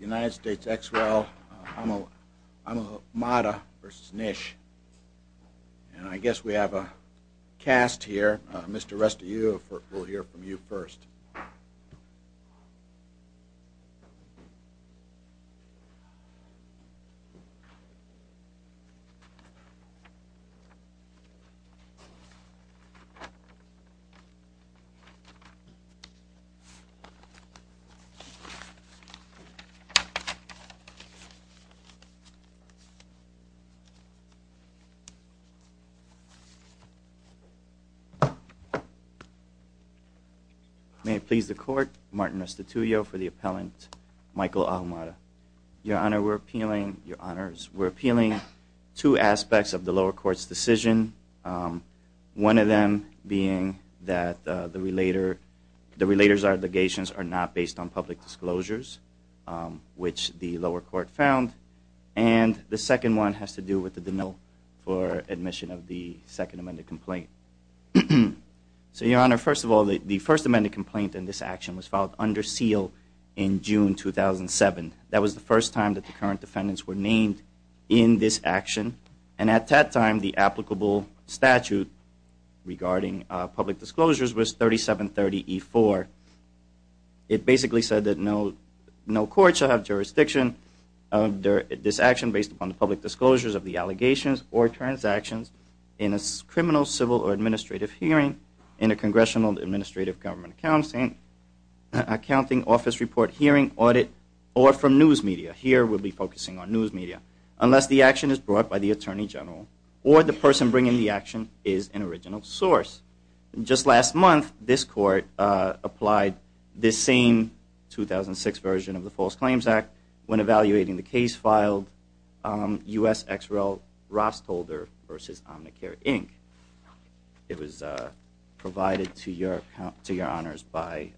United States ex rel. Ahumada v. NISH. And I guess we have a cast here. Mr. Rusty, we'll hear from you first. May it please the Court, Martin Restituto for the appellant, Michael Ahumada. Your Honor, we're appealing two aspects of the lower court's decision, one of them being that the relator's obligations are not based on public disclosures. Which the lower court found. And the second one has to do with the denial for admission of the second amended complaint. So Your Honor, first of all, the first amended complaint in this action was filed under seal in June 2007. That was the first time that the current defendants were named in this action. And at that time, the applicable statute regarding public disclosures was 3730E4. It basically said that no court shall have jurisdiction under this action based upon the public disclosures of the allegations or transactions in a criminal, civil, or administrative hearing in a congressional administrative government accounting office report hearing audit or from news media. Here, we'll be focusing on news media. Unless the action is brought by the Attorney General or the person bringing the action is an original source. Just last month, this court applied this same 2006 version of the False Claims Act when evaluating the case filed, U.S.X.R.L. Rostholder v. Omnicare, Inc. It was provided to Your Honors by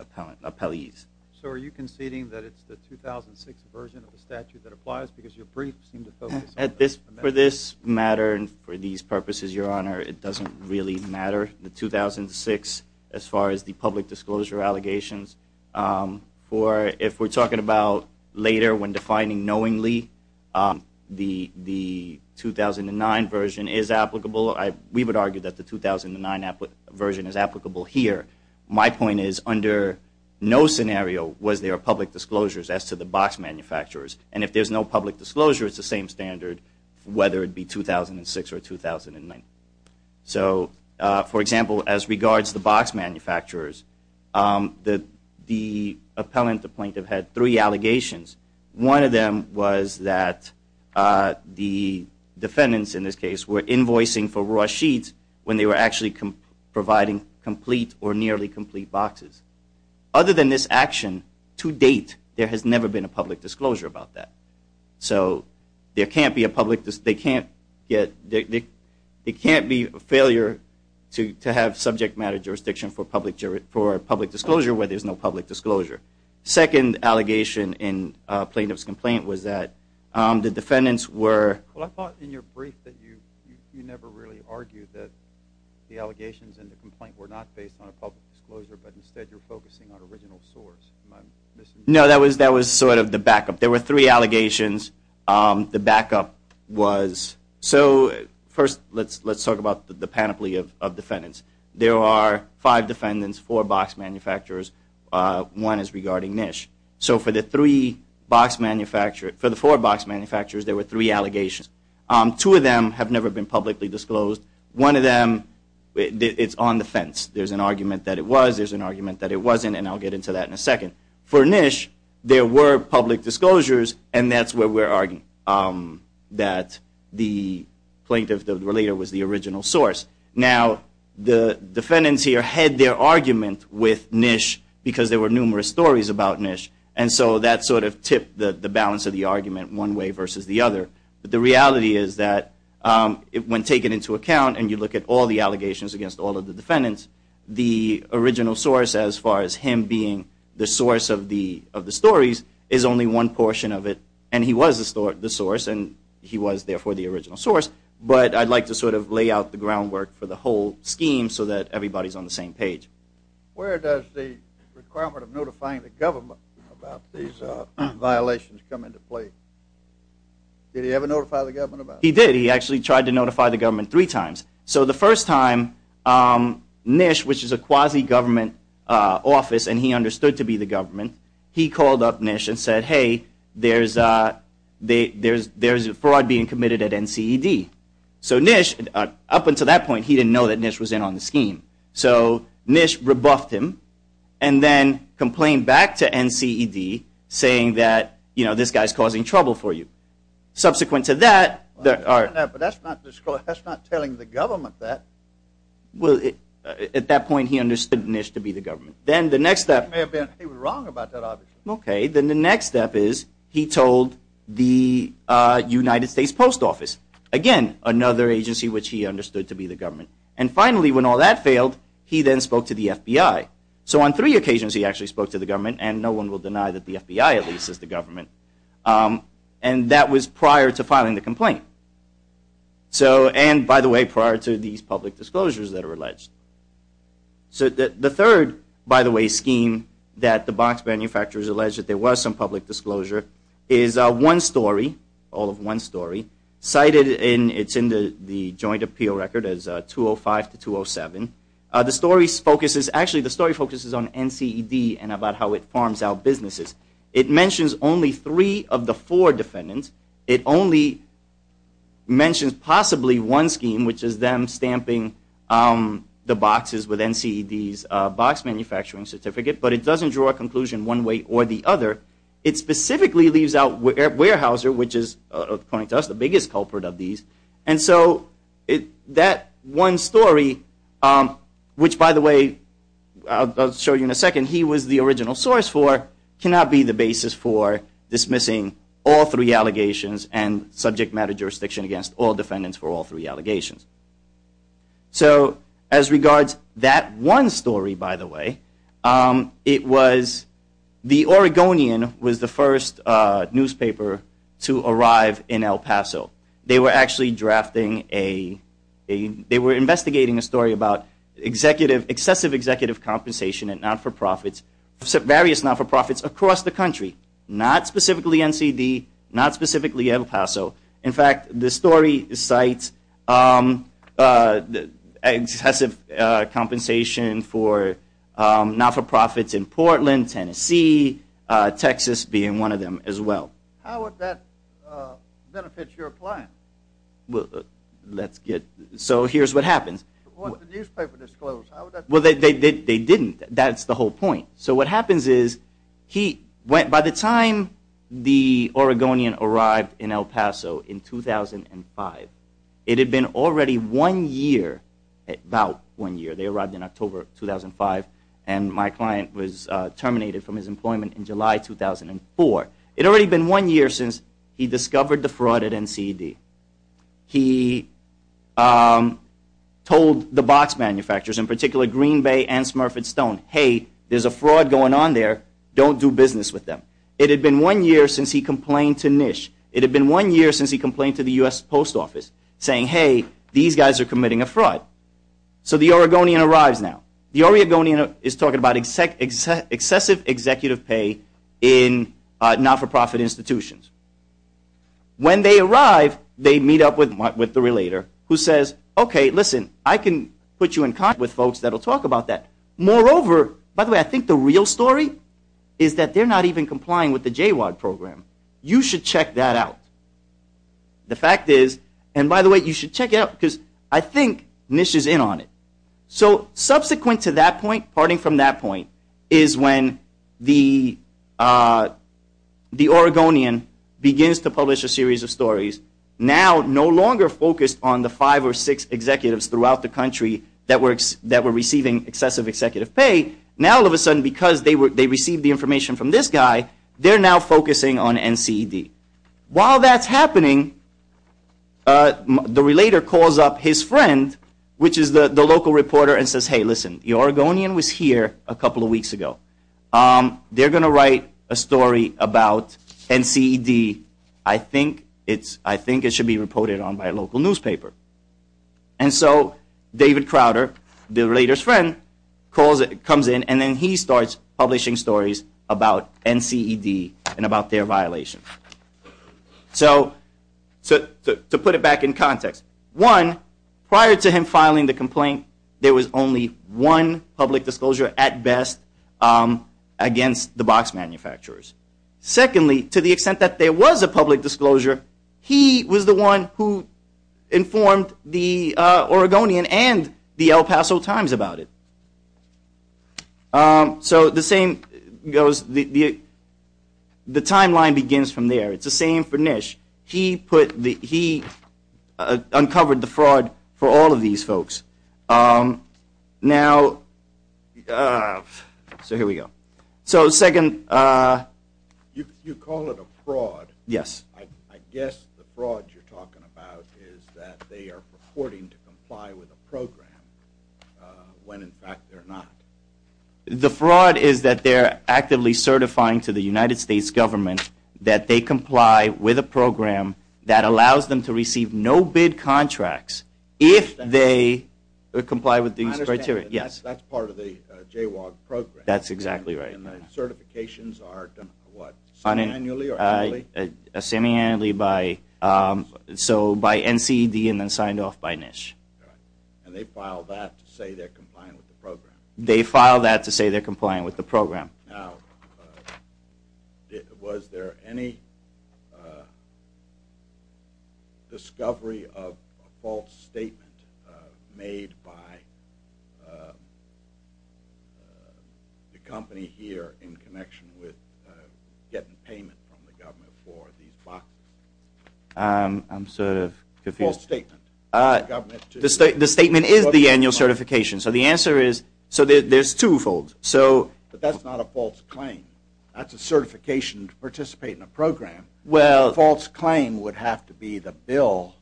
appellees. So are you conceding that it's the 2006 version of the statute that applies? Because your briefs seem to focus on amendments. For these purposes, Your Honor, it doesn't really matter. The 2006, as far as the public disclosure allegations, if we're talking about later when defining knowingly, the 2009 version is applicable. We would argue that the 2009 version is applicable here. My point is, under no scenario was there a public disclosure as to the box manufacturers. And if there's no public disclosure, it's the same standard whether it be 2006 or 2009. So, for example, as regards the box manufacturers, the appellant, the plaintiff, had three allegations. One of them was that the defendants, in this case, were invoicing for raw sheets when they were actually providing complete or nearly complete boxes. Other than this action, to date, there has never been a public disclosure about that. So there can't be a failure to have subject matter jurisdiction for public disclosure where there's no public disclosure. The second allegation in the plaintiff's complaint was that the defendants were... Well, I thought in your brief that you never really argued that the allegations in the complaint were not based on a public disclosure, but instead you're focusing on original source. No, that was sort of the backup. There were three allegations. The backup was... So first, let's talk about the panoply of defendants. There are five defendants, four box manufacturers. One is regarding NISH. So for the four box manufacturers, there were three allegations. Two of them have never been publicly disclosed. One of them, it's on the fence. There's an argument that it was. There's an argument that it wasn't, and I'll get into that in a second. For NISH, there were public disclosures, and that's where we're arguing that the plaintiff, the relator, was the original source. Now, the defendants here had their argument with NISH because there were numerous stories about NISH, and so that sort of tipped the balance of the argument one way versus the other. But the reality is that when taken into account and you look at all the allegations against all of the defendants, the original source, as far as him being the source of the stories, is only one portion of it. And he was the source, and he was therefore the original source, but I'd like to sort of lay out the groundwork for the whole scheme so that everybody's on the same page. Where does the requirement of notifying the government about these violations come into play? Did he ever notify the government about it? He did. He actually tried to notify the government three times. So the first time, NISH, which is a quasi-government office, and he understood to be the government, he called up NISH and said, hey, there's fraud being committed at NCED. So NISH, up until that point, he didn't know that NISH was in on the scheme. So NISH rebuffed him and then complained back to NCED saying that, you know, this guy's causing trouble for you. Subsequent to that... But that's not telling the government that. Well, at that point, he understood NISH to be the government. Then the next step... He was wrong about that, obviously. Okay, then the next step is he told the United States Post Office, again, another agency which he understood to be the government. And finally, when all that failed, he then spoke to the FBI. So on three occasions, he actually spoke to the government, and no one will deny that the FBI, at least, is the government. And that was prior to filing the complaint. And, by the way, prior to these public disclosures that are alleged. So the third, by the way, scheme that the box manufacturers alleged that there was some public disclosure is One Story. All of One Story. Cited in the joint appeal record as 205 to 207. The story focuses on NCED and about how it farms out businesses. It mentions only three of the four defendants. It only mentions possibly one scheme, which is them stamping the boxes with NCED's box manufacturing certificate. But it doesn't draw a conclusion one way or the other. It specifically leaves out Weyerhaeuser, which is, according to us, the biggest culprit of these. And so that One Story, which, by the way, I'll show you in a second, he was the original source for, cannot be the basis for dismissing all three allegations and subject matter jurisdiction against all defendants for all three allegations. So, as regards that One Story, by the way, it was the Oregonian was the first newspaper to arrive in El Paso. They were actually drafting a, they were investigating a story about executive, excessive executive compensation and not-for-profits, various not-for-profits across the country, not specifically NCED, not specifically El Paso. In fact, the story cites excessive compensation for not-for-profits in Portland, Tennessee, Texas being one of them as well. How would that benefit your client? Well, let's get, so here's what happens. What would the newspaper disclose? Well, they didn't. That's the whole point. So what happens is he, by the time the Oregonian arrived in El Paso in 2005, it had been already one year, about one year. They arrived in October 2005, and my client was terminated from his employment in July 2004. It had already been one year since he discovered the fraud at NCED. He told the box manufacturers, in particular Green Bay and Smurf and Stone, hey, there's a fraud going on there. Don't do business with them. It had been one year since he complained to NISH. It had been one year since he complained to the U.S. Post Office saying, hey, these guys are committing a fraud. So the Oregonian arrives now. The Oregonian is talking about excessive executive pay in not-for-profit institutions. When they arrive, they meet up with the relator who says, okay, listen, I can put you in contact with folks that will talk about that. Moreover, by the way, I think the real story is that they're not even complying with the JWAG program. You should check that out. The fact is, and by the way, you should check it out because I think NISH is in on it. So subsequent to that point, parting from that point, is when the Oregonian begins to publish a series of stories, now no longer focused on the five or six executives throughout the country that were receiving excessive executive pay. Now all of a sudden, because they received the information from this guy, they're now focusing on NCED. While that's happening, the relator calls up his friend, which is the local reporter, and says, hey, listen, the Oregonian was here a couple of weeks ago. They're going to write a story about NCED. I think it should be reported on by a local newspaper. And so David Crowder, the relator's friend, comes in and then he starts publishing stories about NCED and about their violation. So to put it back in context, one, prior to him filing the complaint, there was only one public disclosure at best against the box manufacturers. Secondly, to the extent that there was a public disclosure, he was the one who informed the Oregonian and the El Paso Times about it. So the timeline begins from there. It's the same for NISH. He uncovered the fraud for all of these folks. Now, so here we go. You call it a fraud. I guess the fraud you're talking about is that they are purporting to comply with a program when in fact they're not. The fraud is that they're actively certifying to the United States government that they comply with a program that allows them to receive no-bid contracts. If they comply with these criteria. That's exactly right. Semiannually by NCED and then signed off by NISH. They file that to say they're complying with the program. Now, was there any discovery of a false statement made by the company here in connection with getting payment from the government for these boxes? I'm sort of confused. The statement is the annual certification. But that's not a false claim. That's a certification to participate in a program. A false claim would have to be the bill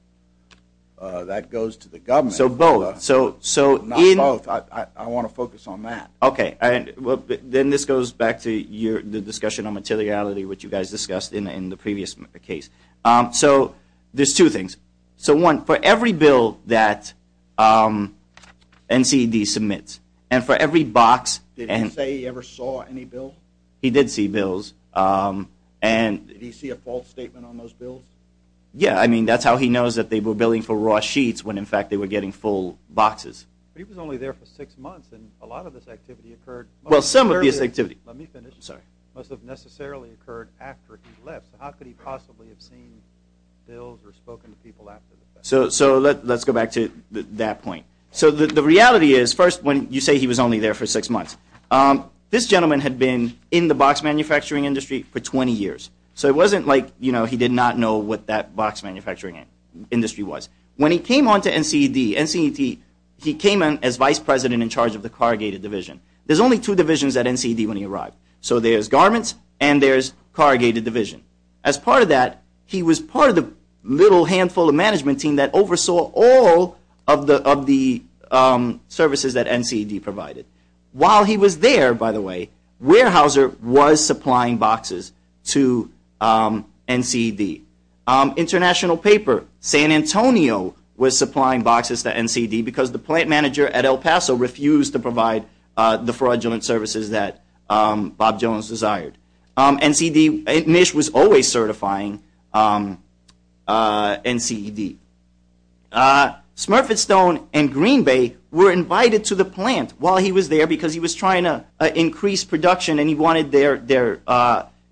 that goes to the government. So both. I want to focus on that. Then this goes back to the discussion on materiality which you guys discussed in the previous case. There's two things. One, for every bill that NCED submits and for every box. Did he say he ever saw any bills? Did he see a false statement on those bills? That's how he knows they were billing for raw sheets when in fact they were getting full boxes. But he was only there for six months and a lot of this activity occurred. It must have necessarily occurred after he left. So let's go back to that point. The reality is first when you say he was only there for six months, this gentleman had been in the box manufacturing industry for 20 years. So it wasn't like he did not know what that box manufacturing industry was. When he came on to NCED, he came on as vice president in charge of the corrugated division. There's only two divisions at NCED when he arrived. So there's garments and there's corrugated division. As part of that, he was part of the little handful of management team that oversaw all of the services that NCED provided. While he was there, by the way, Weyerhaeuser was supplying boxes to NCED. International paper, San Antonio was supplying boxes to NCED because the plant manager at El Paso refused to provide the fraudulent services that Bob Jones desired. Nish was always certifying NCED. Smurfett Stone and Green Bay were invited to the plant while he was there because he was trying to increase production and he wanted their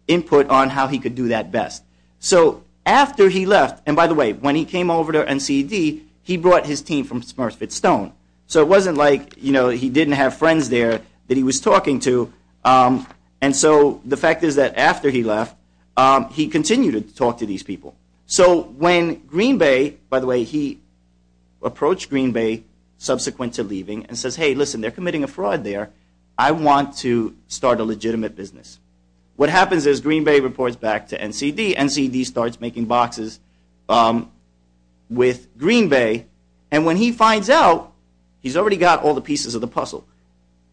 input on how he could do that best. So after he left, and by the way, when he came over to NCED, he brought his team from Smurfett Stone. So it wasn't like he didn't have friends there that he was talking to. And so the fact is that after he left, he continued to talk to these people. So when Green Bay, by the way, he approached Green Bay subsequent to leaving and says, hey, listen, they're committing a fraud there. I want to start a legitimate business. What happens is Green Bay reports back to NCED. NCED starts making boxes with Green Bay, and when he finds out, he's already got all the pieces of the puzzle.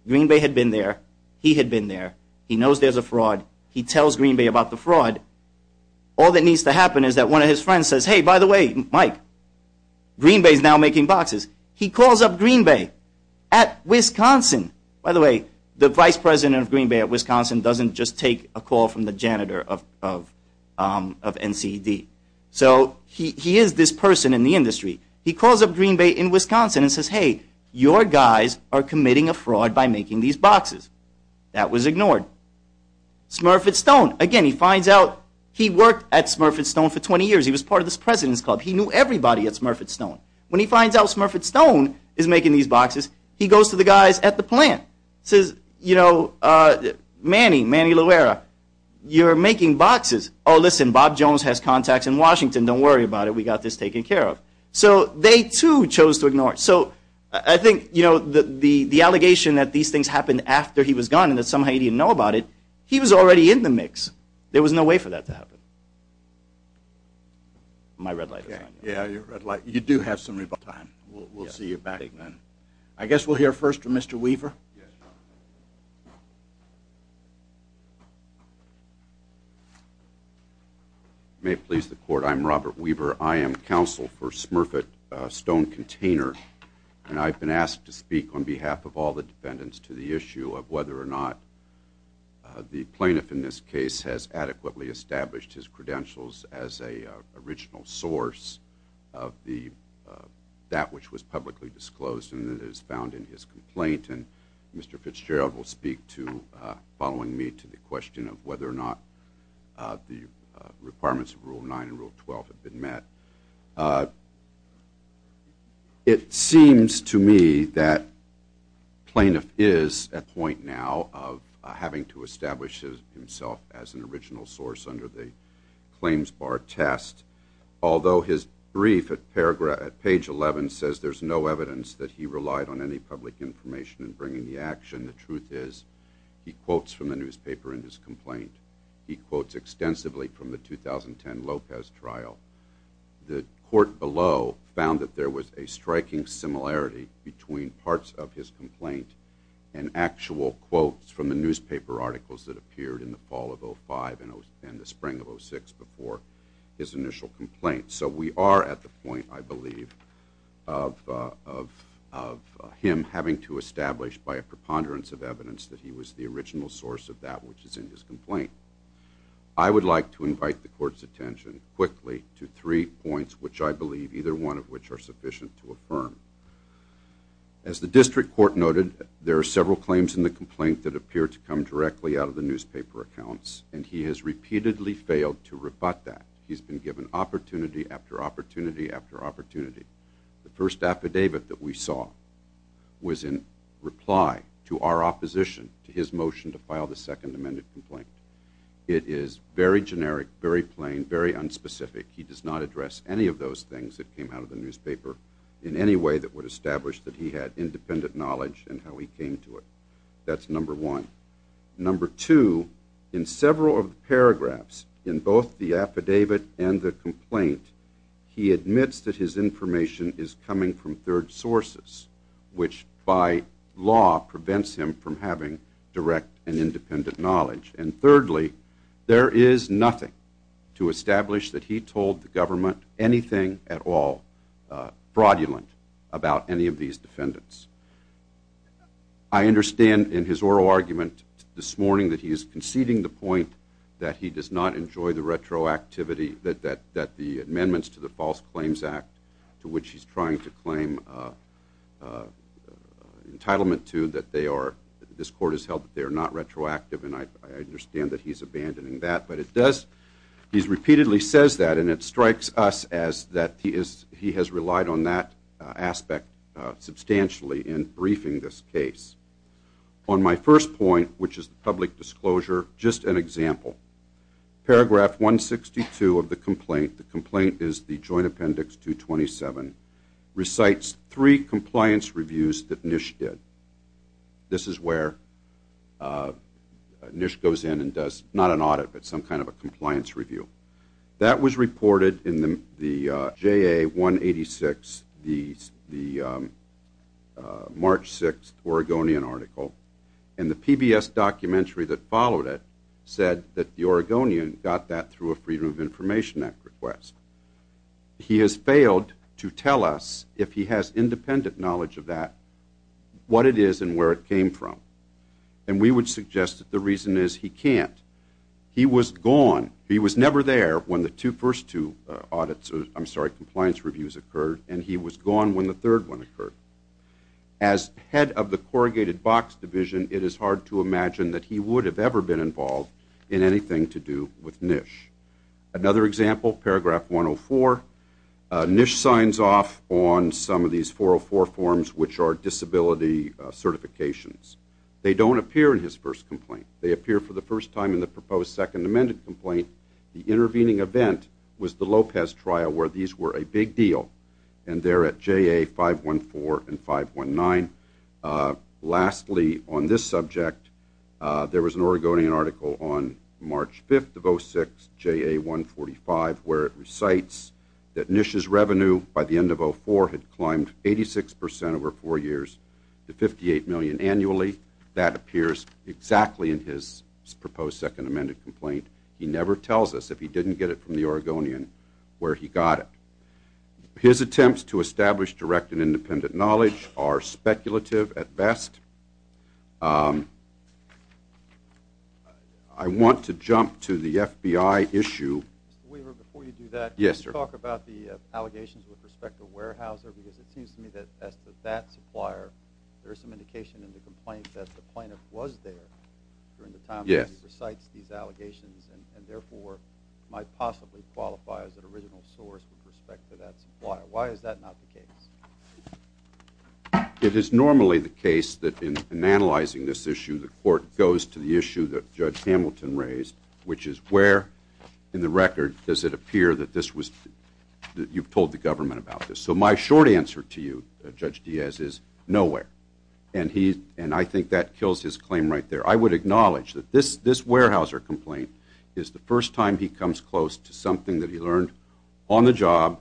Green Bay had been there. He had been there. He knows there's a fraud. He tells Green Bay about the fraud. All that needs to happen is that one of his friends says, hey, by the way, Mike, Green Bay is now making boxes. He calls up Green Bay at Wisconsin. By the way, the vice president of Green Bay at Wisconsin doesn't just take a call from the janitor of NCED. So he is this person in the industry. He calls up Green Bay in Wisconsin and says, hey, your guys are committing a fraud by making these boxes. That was ignored. Smurfett Stone, again, he finds out he worked at Smurfett Stone for 20 years. He was part of this president's club. He knew everybody at Smurfett Stone. When he finds out Smurfett Stone is making these boxes, he goes to the guys at the plant. He says, Manny, Manny Loera, you're making boxes. Oh, listen, Bob Jones has contacts in Washington. Don't worry about it. We got this taken care of. So they, too, chose to ignore it. So I think the allegation that these things happened after he was gone and that somehow he didn't know about it, he was already in the mix. There was no way for that to happen. My red light is on. You do have some rebuttal time. We'll see you back then. I guess we'll hear first from Mr. Weaver. Yes. May it please the court, I'm Robert Weaver. I am counsel for Smurfett Stone container. And I've been asked to speak on behalf of all the defendants to the issue of whether or not the plaintiff in this case has adequately established his credentials as a original source of that which was publicly disclosed and that is found in his complaint. And Mr. Fitzgerald will speak following me to the question of whether or not the requirements of Rule 9 and Rule 12 have been met. It seems to me that plaintiff is at point now of having to establish himself as an original source under the claims bar test. Although his brief at page 11 says there's no evidence that he relied on any public information in bringing the action, the truth is he quotes from the newspaper in his complaint. He quotes extensively from the 2010 Lopez trial. The court below found that there was a striking similarity between parts of his complaint and actual quotes from the newspaper articles that appeared in the fall of 05 and the spring of 06 before his initial complaint. So we are at the point I believe of him having to establish by a preponderance of evidence that he was the original source of that which is in his complaint. I would like to invite the court's attention quickly to three points which I believe either one of which are sufficient to affirm. As the district court noted, there are several claims in the complaint that appear to come directly out of the newspaper accounts and he has repeatedly failed to rebut that. He's been given opportunity after opportunity after opportunity. The first affidavit that we saw was in reply to our opposition to his motion to file the second amended complaint. It is very generic, very plain, very unspecific. He does not address any of those things that came out of the newspaper in any way that would establish that he had independent knowledge in how he came to it. That's number one. Number two, in several paragraphs in both the affidavit and the complaint, he admits that his information is coming from third sources which by law prevents him from having direct and independent knowledge. And thirdly, there is nothing to establish that he told the government anything at all fraudulent about any of these defendants. I understand in his oral argument this morning that he is conceding the point that he does not enjoy the retroactivity that the amendments to the False Claims Act to which he's trying to claim entitlement to that they are, this court has held that they are not retroactive and I understand that he's abandoning that. But it does, he's repeatedly says that and it strikes us as that he has relied on that aspect substantially in briefing this case. On my first point, which is the public disclosure, just an example. Paragraph 162 of the complaint, the complaint is the Joint Appendix 227, recites three compliance reviews that Nish did. This is where Nish goes in and does not an audit but some kind of a compliance review. That was reported in the JA 186, the March 6th Oregonian article and the PBS documentary that followed it said that the Oregonian got that through a Freedom of Information Act request. He has failed to tell us if he has independent knowledge of that, what it is and where it came from. And we would suggest that the reason is he can't. He was gone, he was never there when the first two audits, I'm sorry, compliance reviews occurred and he was gone when the third one occurred. As head of the Corrugated Box Division, it is hard to imagine that he would have ever been involved in anything to do with Nish. Another example, Paragraph 104, Nish signs off on some of these 404 forms which are disability certifications. They don't appear in his first complaint. They appear for the first time in the proposed Second Amendment complaint. The intervening event was the Lopez trial where these were a big deal and they're at JA 514 and 519. Lastly, on this subject, there was an Oregonian article on March 5th of 06, JA 145 where it recites that Nish's revenue by the end of 04 had climbed 86% over four years to 58 million annually. That appears exactly in his proposed Second Amendment complaint. He never tells us if he didn't get it from the Oregonian where he got it. His attempts to establish direct and independent knowledge are speculative at best. I want to jump to the FBI issue. Yes, sir. Why is that not the case? It is normally the case that in analyzing this issue, the court goes to the issue that Judge Hamilton raised which is where in the record does it appear that you've told the government about this. My short answer to you, Judge Diaz, is nowhere. I think that kills his claim right there. I would acknowledge that this Weyerhaeuser complaint is the first time he comes close to something that he learned on the job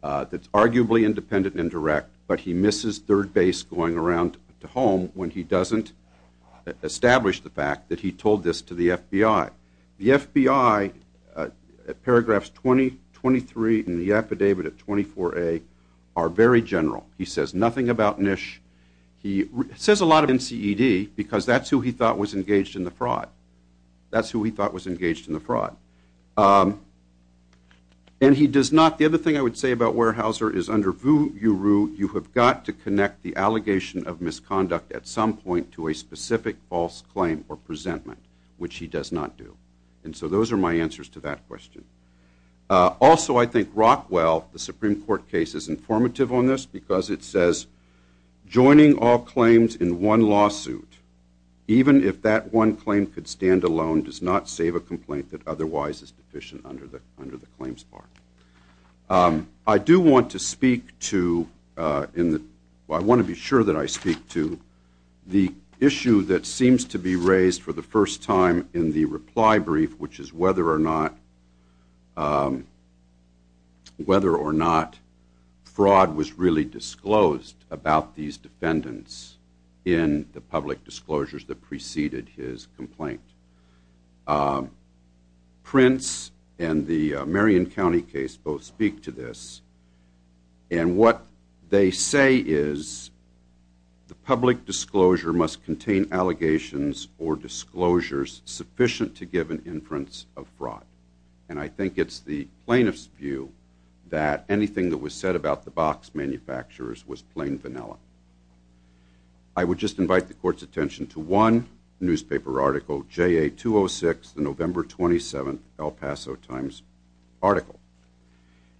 that's arguably independent and direct, but he misses third base going around to home when he doesn't establish the fact that he told this to the FBI. The FBI at paragraphs 20, 23, and the affidavit at 24A are very general. He says nothing about Nish. He says a lot about NCED because that's who he thought was engaged in the fraud. The other thing I would say about Weyerhaeuser is under voo-you-roo, you have got to connect the allegation of misconduct at some point to a specific false claim or presentment, which he does not do. And so those are my answers to that question. Also, I think Rockwell, the Supreme Court case, is informative on this because it says, joining all claims in one lawsuit even if that one claim could stand alone does not save a complaint that otherwise is deficient under the claims part. I do want to speak to, I want to be sure that I speak to the issue that seems to be raised for the first time in the reply brief, which is whether or not fraud was really disclosed about these defendants in the public disclosures that preceded his complaint. Prince and the Marion County case both say that disclosure must contain allegations or disclosures sufficient to give an inference of fraud. And I think it's the plaintiff's view that anything that was said about the box manufacturers was plain vanilla. I would just invite the court's attention to one newspaper article, JA 206, the November 27th, El Paso Times article.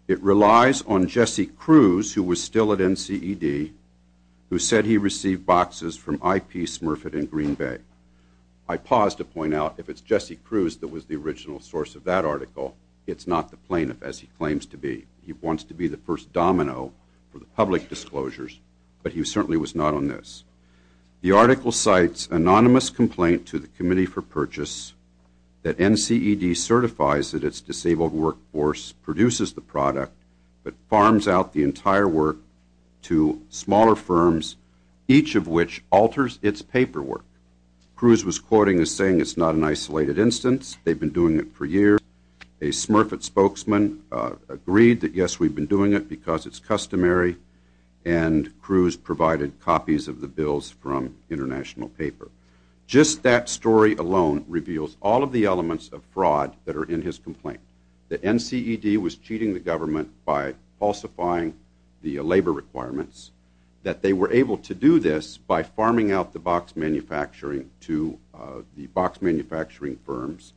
It relies on Jesse Cruz, who was still at NCED, who said he received boxes from I.P. Smurfett in Green Bay. I pause to point out, if it's Jesse Cruz that was the original source of that article, it's not the plaintiff as he claims to be. He wants to be the first domino for the public disclosures, but he certainly was not on this. The article cites anonymous complaint to the Committee for Purchase that NCED certifies that its disabled workforce produces the product but farms out the entire work to smaller firms, each of which alters its paperwork. Cruz was quoting as saying it's not an isolated instance. They've been doing it for years. A Smurfett spokesman agreed that, yes, we've been doing it because it's customary. And Cruz provided copies of the bills from International Paper. Just that story alone reveals all of the elements of fraud that are in his complaint. The NCED was cheating the government by falsifying the labor requirements, that they were able to do this by farming out the box manufacturing to the box manufacturing firms.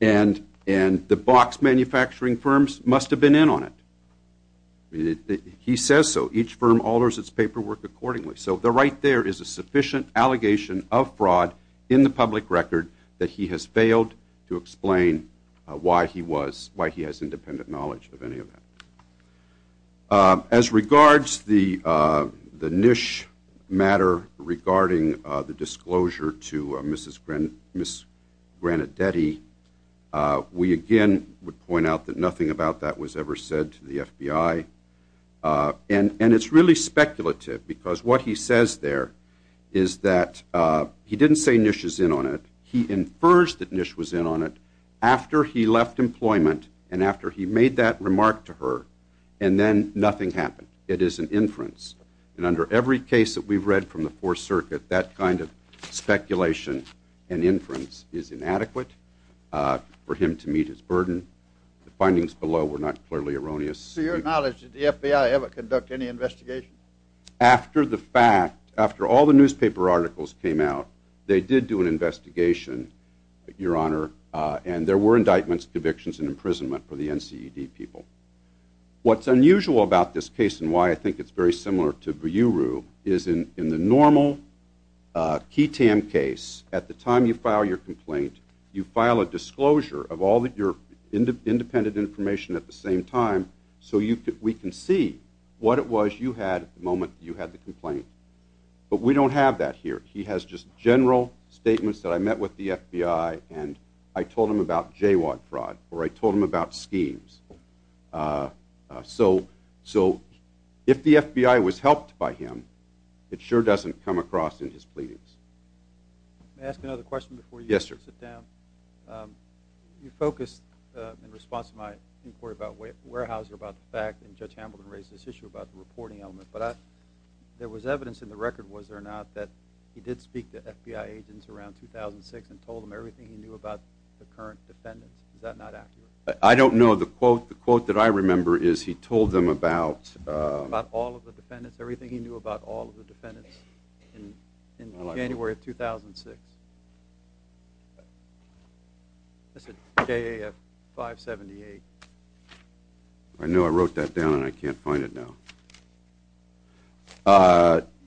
And the box manufacturing firms must have been in on it. He says so. Each firm alters its paperwork accordingly. So right there is a sufficient allegation of fraud in the public record that he has failed to explain why he was, why he has independent knowledge of any of that. As regards the Nish matter regarding the disclosure to Mrs. Granadetti, we again would point out that nothing about that was ever said to the FBI. And it's really speculative because what he says there is that he didn't say Nish is in on it. He infers that Nish was in on it after he left employment and after he made that remark to her. And then nothing happened. It is an inference. And under every case that we've read from the Fourth Circuit, that kind of speculation and inference is inadequate for him to meet his burden. The findings below were not clearly erroneous. To your knowledge, did the FBI ever conduct any investigation? After the fact, after all the newspaper articles came out, they did do an investigation, Your Honor, and there were indictments, convictions, and imprisonment for the NCED people. What's unusual about this case and why I think it's very similar to Biryuru is in the normal Kitam case, at the time you file your complaint, you file a disclosure of all of your independent information at the same time so we can see what it was you had at the moment you had the complaint. But we don't have that here. He has just general statements that I met with the FBI and I told him about JWAG fraud or I told him about schemes. So if the FBI was helped by him, it sure doesn't come across in his pleadings. May I ask another question before you sit down? You focused, in response to my inquiry about Weyerhaeuser, about the fact, and Judge Hamilton raised this issue about the reporting element, but there was evidence in the record, was there not, that he did speak to FBI agents around 2006 and told them everything he knew about the current defendants. Is that not accurate? I don't know. The quote that I remember is he told them about... About all of the defendants, everything he knew about all of the defendants in January of 2006. That's at JAF 578. I know I wrote that down and I can't find it now.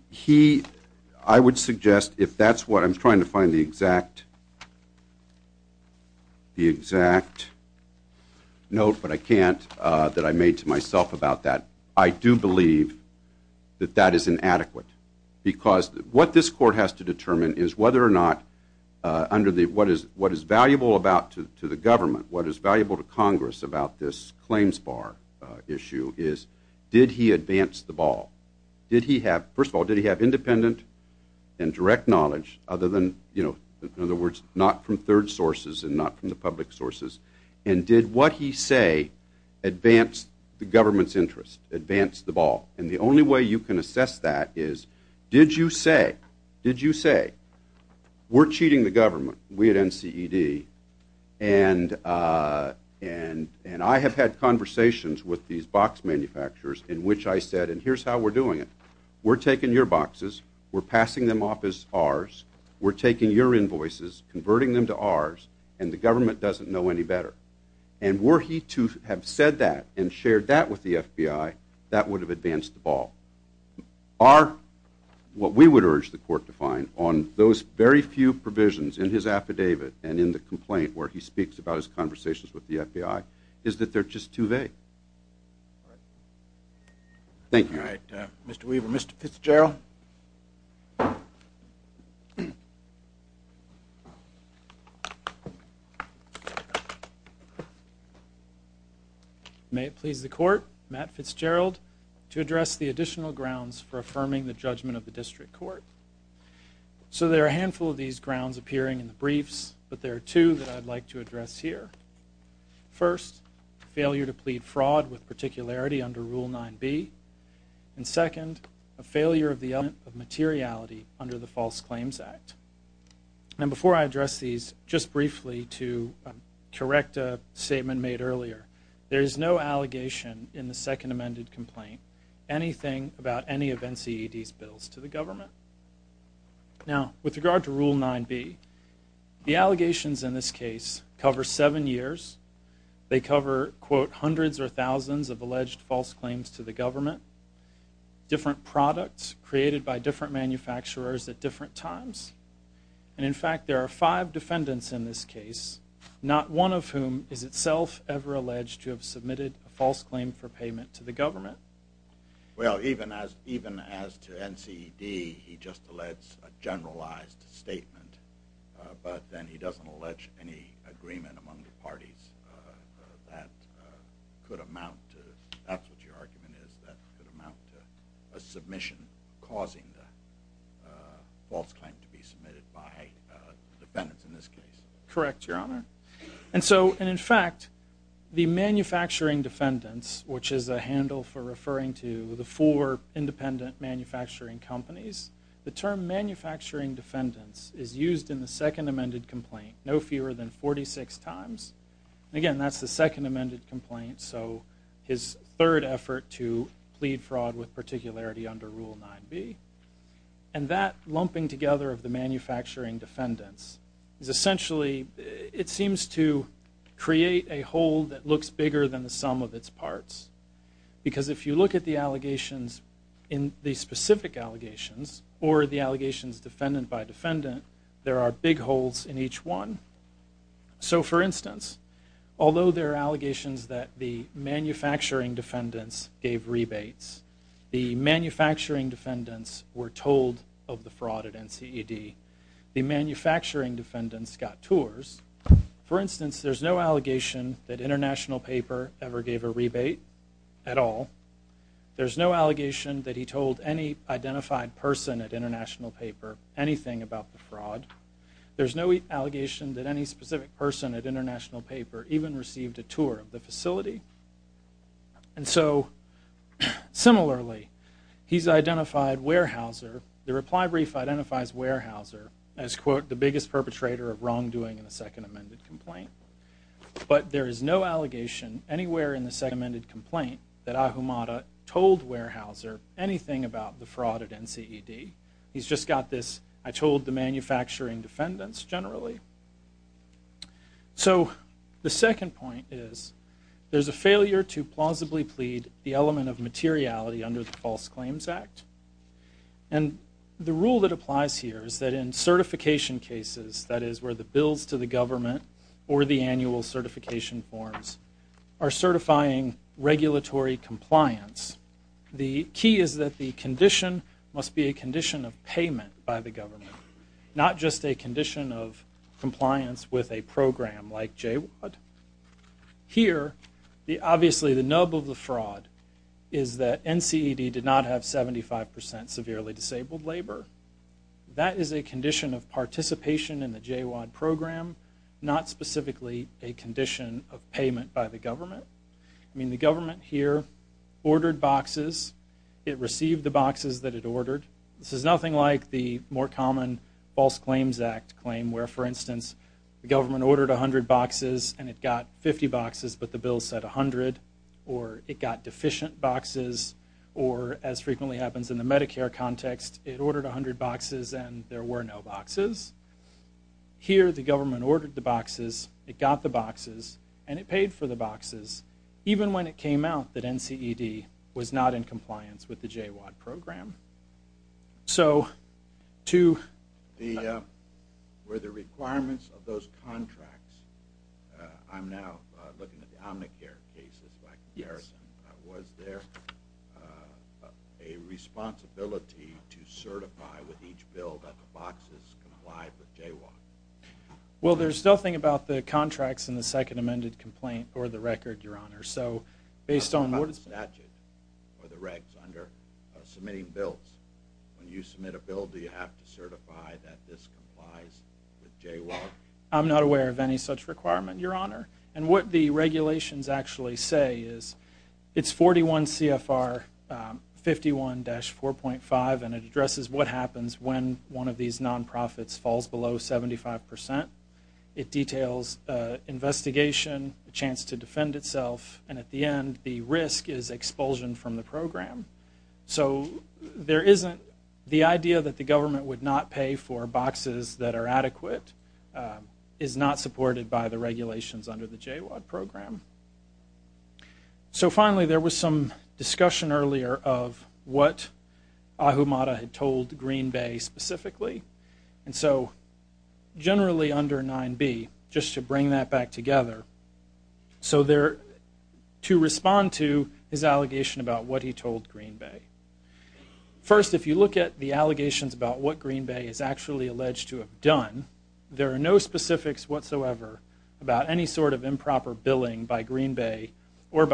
He, I would suggest, if that's what I'm trying to find the exact note, but I can't, that I made to myself about that. I do believe that that is inadequate. Because what this court has to determine is whether or not, under the, what is valuable about, to the government, what is valuable to Congress about this claims bar issue is, did he advance the ball? Did he have, first of all, did he have independent and direct knowledge, other than, you know, in other words, not from third sources and not from the public sources, and did what he say advance the government's interest, advance the ball? And the only way you can assess that is, did you say, did you say, we're cheating the government, we at NCED, and I have had conversations with these box manufacturers in which I said, and here's how we're doing it. We're taking your boxes, we're passing them off as ours, we're taking your invoices, converting them to ours, and the government doesn't know any better. And were he to have said that and shared that with the FBI, that would have advanced the ball. Our, what we would have done in those conversations with the FBI, is that they're just too vague. Thank you. Alright, Mr. Weaver, Mr. Fitzgerald. May it please the court, Matt Fitzgerald, to address the additional grounds for affirming the judgment of the district court. So there are a handful of these grounds appearing in the briefs, but there are two that I'd like to address here. First, failure to plead fraud with particularity under Rule 9B, and second, a failure of the element of materiality under the False Claims Act. And before I address these, just briefly to correct a statement made earlier, there is no Now, with regard to Rule 9B, the allegations in this case cover seven years, they cover, quote, hundreds or thousands of alleged false claims to the government, different products created by different manufacturers at different times, and in fact, there are five defendants in this case, not one of whom is itself ever alleged to have submitted a false claim for payment to the government. Well, even as to NCD, he just alleges a generalized statement, but then he doesn't allege any agreement among the parties that could amount to, that's what your argument is, that could amount to a submission causing the false claim to be submitted by the defendants in this case. Correct, Your Honor. And so, and in fact, the manufacturing defendants, which is a handle for referring to the four independent manufacturing companies, the term manufacturing defendants is used in the second amended complaint no fewer than 46 times, and again, that's the second amended complaint, so his third effort to plead fraud with particularity under Rule 9B, and that lumping together of the manufacturing defendants is essentially, it seems to create a whole that looks bigger than the sum of its parts, because if you look at the allegations in the specific allegations, or the allegations defendant by defendant, there are big holes in each one. So, for instance, although there are allegations that the manufacturing defendants gave rebates, the manufacturing defendants were told of the fraud at NCD, the manufacturing defendants got tours, for instance, there's no allegation that International Paper ever gave a rebate at all, there's no allegation that he told any specific person at International Paper even received a tour of the facility, and so, similarly, he's identified Weyerhaeuser, the reply brief identifies Weyerhaeuser as, quote, the biggest perpetrator of wrongdoing in the second amended complaint, but there is no allegation anywhere in the second amended complaint that Ahumada told Weyerhaeuser anything about the fraud at NCD, he's just got this, I told the manufacturing defendants, generally. So, the second point is, there's a failure to plausibly plead the element of materiality under the False Claims Act, and the rule that applies here is that in certification cases, that is, where the bills to the government or the annual certification forms are certifying regulatory compliance, the key is that the condition must be a condition of payment by the government, not just a condition of compliance with a program like JWAD. Here, obviously, the nub of the fraud is that NCD did not have 75% severely disabled labor, that is a condition of participation in the JWAD program, not specifically a condition of payment by the government. I mean, the government here ordered boxes, it received the boxes that it ordered, this is nothing like the more common False Claims Act claim where, for instance, the government ordered 100 boxes and it got 50 boxes, but the bill said 100, or it got deficient boxes, or as frequently happens in the Medicare context, it ordered 100 boxes and there were no boxes. Here, the government ordered the boxes, it got the boxes, and it paid for the boxes even when it came out that NCD was not in compliance with the JWAD program. So, to... Were the requirements of those contracts, I'm now looking at the Omnicare cases like Harrison, was there a responsibility to certify with each bill that the boxes complied with JWAD? Well, there's nothing about the contracts in the Second Amended Complaint or the record, Your Honor. What about the statute or the regs under submitting bills? When you submit a bill, do you have to certify that this complies with JWAD? I'm not aware of any such requirement, Your Honor. And what the regulations actually say is, it's 41 CFR 51-4.5 and it addresses what happens when one of these non-profits falls below 75%. It details investigation, a chance to defend itself, and at the end, the risk is expulsion from the program. So, there isn't... The idea that the government would not pay for boxes that are adequate is not supported by the regulations under the JWAD program. So, finally, there was some discussion earlier of what Ahumada had told Green Bay specifically. And so, generally under 9B, just to bring that back together. So, there... To respond to his allegation about what he told Green Bay. First, if you look at the allegations about what Green Bay is actually alleged to have done, there are no specifics whatsoever about any sort of improper billing by What Green Bay and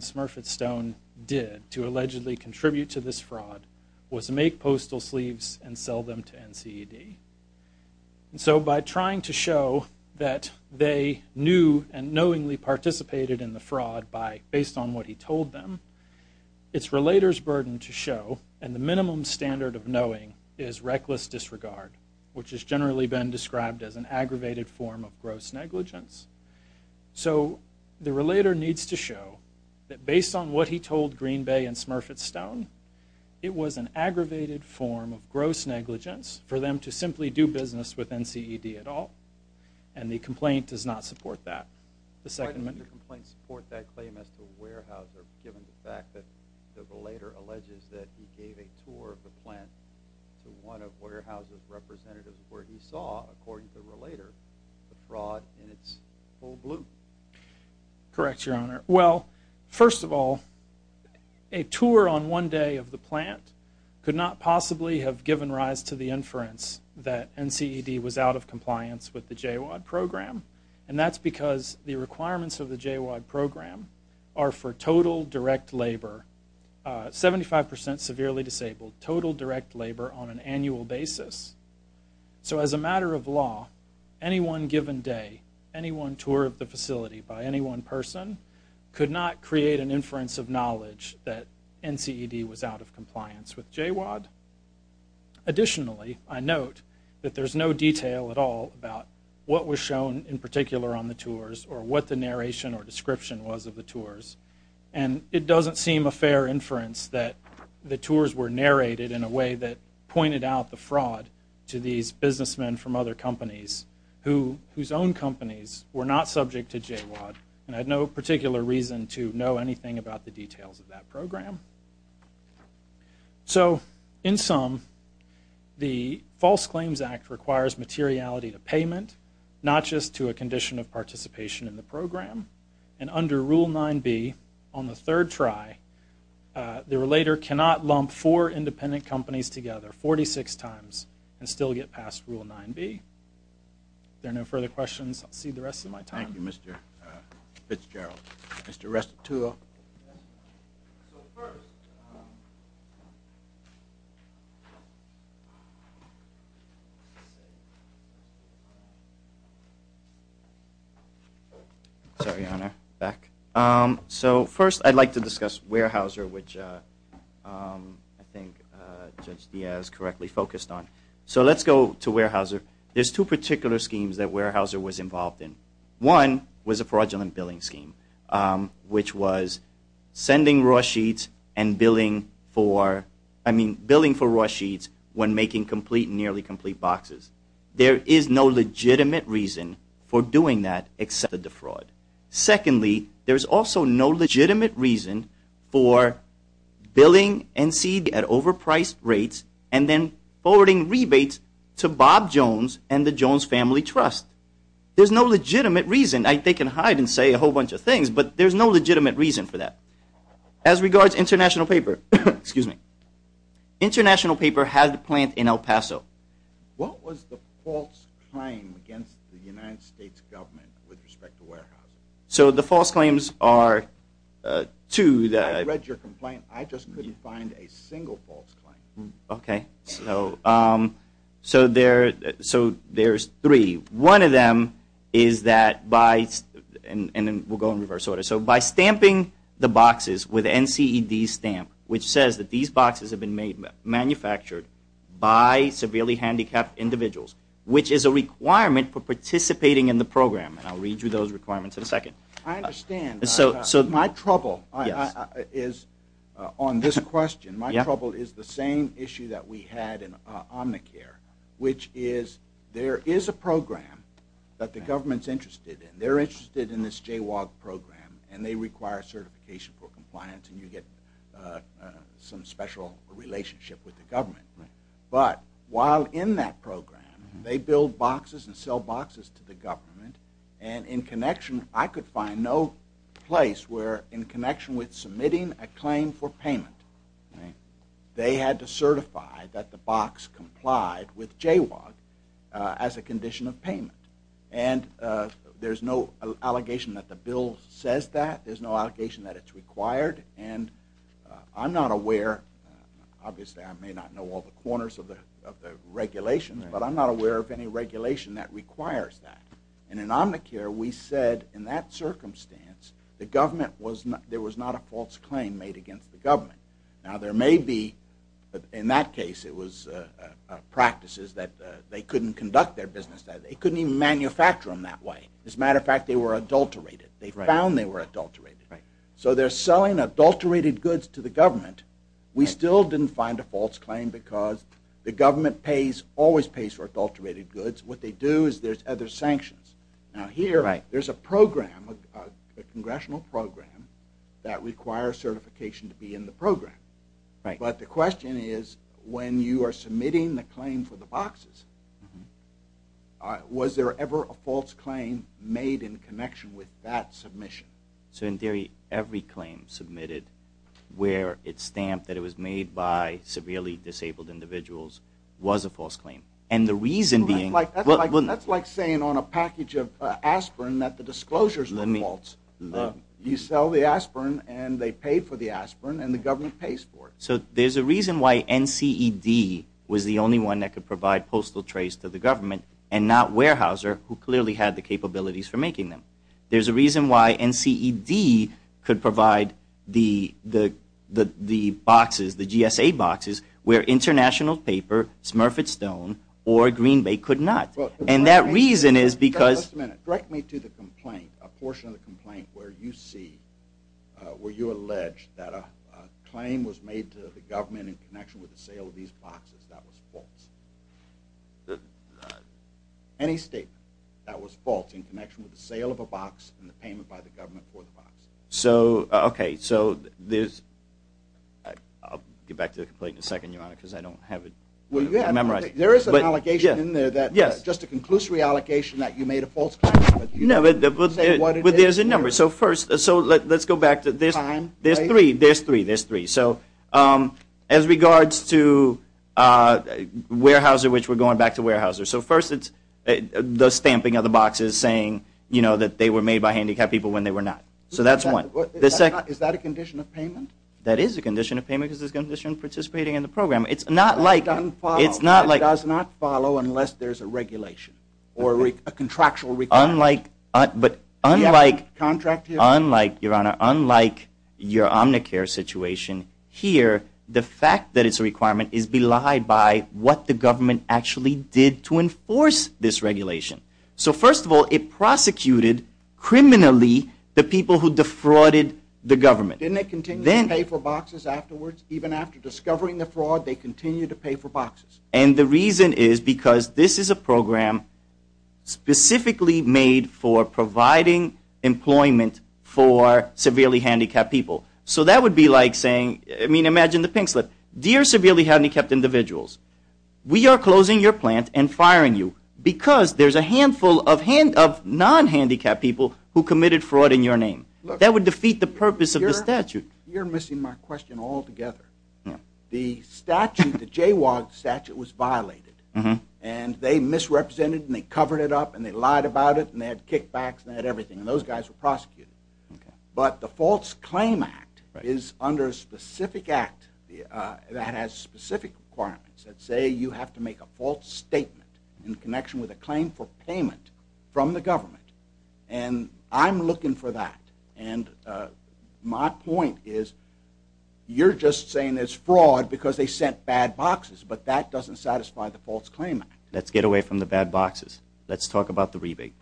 Smurfett Stone did to allegedly contribute to this fraud was make postal sleeves and sell them to NCED. And so, by trying to show that they knew and knowingly participated in the fraud based on what he told them, it's relator's burden to show, and the minimum standard of knowing is reckless disregard, which has generally been described as an aggravated form of gross negligence. So, the relator needs to show that based on what he told Green Bay and Smurfett Stone, it was an aggravated form of gross negligence for them to simply do business with NCED at all. And the complaint does not support that. The second... Why did the complaint support that claim as to Warehouse given the fact that the representatives where he saw, according to the relator, the fraud in its full bloom? Correct, Your Honor. Well, first of all, a tour on one day of the plant could not possibly have given rise to the inference that NCED was out of compliance with the JWOD program. And that's because the requirements of the JWOD program are for total direct labor, 75% severely disabled, total direct labor on an annual basis. So, as a matter of law, any one given day, any one tour of the facility by any one person could not create an inference of knowledge that NCED was out of compliance with JWOD. Additionally, I note that there's no detail at all about what was shown in particular on the tours or what the narration or description was of the tours. And it doesn't seem a fair inference that the tours were narrated in a way that pointed out the fraud to these businessmen from other companies whose own companies were not subject to JWOD and had no particular reason to know anything about the details of that program. So, in sum, the False Claims Act requires materiality to payment, not just to a condition of participation in the program. And under Rule 9b on the third try, the relator cannot lump four independent companies together 46 times and still get past Rule 9b. If there are no further questions, I'll cede the rest of my time. Thank you, Mr. Fitzgerald. Mr. Restituto. Sorry, Your Honor. Back. So, first I'd like to discuss Weyerhaeuser, which I think Judge Diaz correctly focused on. So, let's go to Weyerhaeuser. There's two particular schemes that Weyerhaeuser was involved in. One was a fraudulent billing scheme, which was sending raw sheets and billing for raw sheets when making nearly complete boxes. There is no legitimate reason for doing that except to defraud. Secondly, there's also no legitimate reason for billing and trust. There's no legitimate reason. They can hide and say a whole bunch of things, but there's no legitimate reason for that. As regards international paper, international paper had to plant in El Paso. What was the false claim against the United States government with respect to Weyerhaeuser? So, the false claims are two. I read your complaint. I just couldn't find a single false claim. Okay. So, there's three. One of them is that by, and then we'll go in reverse order. So, by stamping the boxes with NCED stamp, which says that these boxes have been manufactured by severely handicapped individuals, which is a requirement for participating in the program. I'll read you those requirements in a second. I understand. My trouble is on this question. My trouble is the same issue that we had in Omnicare, which is there is a program that the government's interested in. They're interested in this JWAG program and they require certification for compliance and you get some special relationship with the government. But, while in that program, they build boxes and sell boxes to the government and in connection, I could find no place where in connection with submitting a claim for payment, they had to certify that the box complied with JWAG as a condition of payment. And there's no allegation that the bill says that. There's no allegation that it's required and I'm not aware, obviously I may not know all the corners of the regulations, but I'm not aware of any regulation that requires that. And in Omnicare, we said in that circumstance, the government was, there was not a false claim made against the government. Now, there may be in that case, it was practices that they couldn't conduct their business. They couldn't even manufacture them that way. As a matter of fact, they were adulterated. They found they were adulterated. So, they're selling adulterated goods to the government. We still didn't find a false claim because the government pays, always pays for adulterated goods. What they do is there's other sanctions. Now, here, there's a program, a congressional program that requires certification to be in the program. But, the question is when you are submitting the claim for the boxes, was there ever a false claim made in connection with that submission? So, in theory, every claim submitted where it's stamped that it was made by severely disabled individuals was a false claim. And the reason being... That's like saying on a package of aspirin that the disclosures were false. You sell the aspirin and they pay for the aspirin and the government pays for it. So, there's a reason why NCED was the only one that could provide postal trays to the government and not Weyerhaeuser, who clearly had the capabilities for making them. There's a reason why NCED could provide the boxes, the GSA boxes, where International Paper, Smurfit Stone, or Green Bay could not. And that reason is because... Just a minute. Direct me to the complaint. A portion of the complaint where you see, where you allege that a claim was made to the government in connection with the sale of these boxes that was false. Any statement that was false in connection with the sale of a box and the payment by the government for the box. So, okay. So, there's... I'll get back to the complaint in a second, Your Honor, because I don't have it memorized. There is an allegation in there, just a conclusory allegation that you made a false claim. But there's a number. So, let's go back. There's three. As regards to Weyerhaeuser, which we're going back to Weyerhaeuser. So, first it's the That is a condition of payment because it's a condition of participating in the program. It's not like... It does not follow unless there's a regulation or a contractual requirement. Unlike, Your Honor, unlike your Omnicare situation here, the fact that it's a requirement is belied by what the government actually did to enforce this regulation. So, first of all, it prosecuted criminally the people who defrauded the government. Didn't they continue to pay for boxes afterwards? Even after discovering the fraud, they continued to pay for boxes? And the reason is because this is a program specifically made for providing employment for severely handicapped people. So, that would be like saying... I mean, imagine the pink slip. Dear severely handicapped individuals, we are closing your plant and firing you because there's a handful of non-handicapped people who committed fraud in your name. That would defeat the purpose of the statute. You're missing my question all together. The statute, the JWAG statute was violated. And they misrepresented and they covered it up and they lied about it and they had kickbacks and they had everything. And those guys were prosecuted. But the False Claim Act is under a specific act that has specific requirements that say you have to make a false statement in connection with a claim for payment from the government. And I'm looking for that. And my point is, you're just saying it's fraud because they sent bad boxes, but that doesn't satisfy the False Claim Act. Let's get away from the bad boxes. Let's talk about the rebate.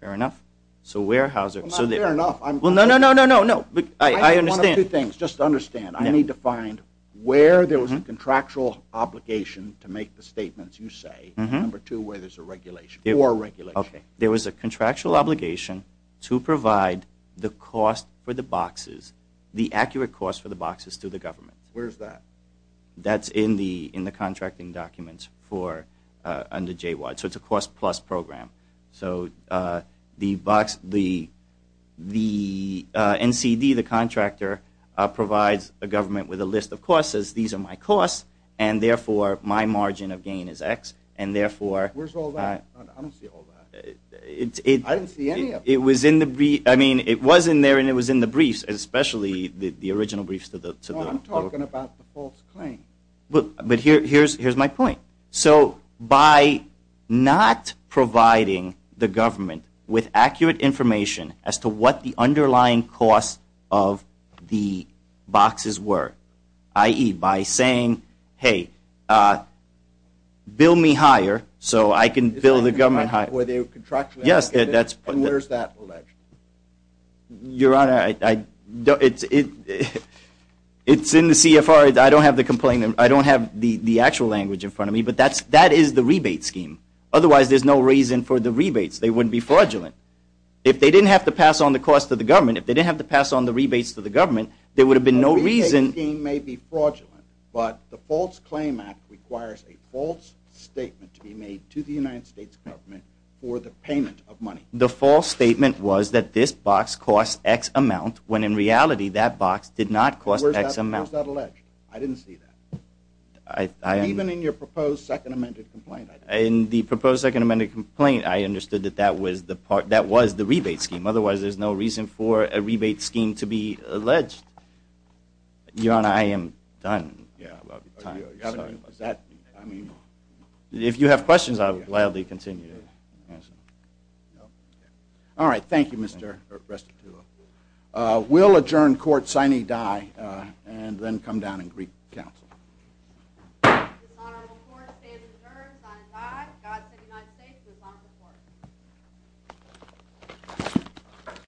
Fair enough? So, Weyerhaeuser... Well, not fair enough. Well, no, no, no, no, no. I understand. I need one of two things. Just understand. I need to find where there was a contractual obligation to make the statements you say. Number two, where there's a regulation. Or a regulation. Okay. There was a contractual obligation to provide the cost for the boxes, the accurate cost for the boxes to the government. Where's that? That's in the contracting documents for, under JWAD. So it's a cost plus program. So, the box, the NCD, the contractor, provides the government with a list of costs, says these are my costs, and therefore my margin of gain is X, and therefore... Where's all that? I don't see all that. I didn't see any of that. It was in the, I mean, it was in there and it was in the briefs, especially the original briefs to the... No, I'm talking about the false claim. But here's my point. So, by not providing the government with accurate information as to what the underlying costs of the boxes were, i.e., by saying, hey, bill me higher so I can bill the government higher. Yes, that's... And where's that? Your Honor, it's in the CFR. I don't have the complaint, I don't have the actual language in front of me, but that is the rebate scheme. Otherwise, there's no reason for the rebates. They wouldn't be fraudulent. If they didn't have to pass on the cost to the government, if they didn't have to pass on the rebates to the government, there would have been no reason... The rebate scheme may be fraudulent, but the False Claim Act requires a false statement to be made to the United States government for the payment of money. The false statement was that this box costs X amount, when in reality, that box did not cost X amount. Where's that alleged? I didn't see that. Even in your proposed second amended complaint, I didn't see that. In the proposed second amended complaint, I understood that that was the part, that was the rebate scheme. Otherwise, there's no reason for a rebate scheme to be alleged. Your Honor, I am done. Is that... I mean... If you have questions, I would gladly continue. Alright, thank you, Mr. Restituto. We'll adjourn court, signee die, and then come down and greet counsel. This is an honorable court, the stand is adjourned, signee dies, God save the United States, this is an honorable court.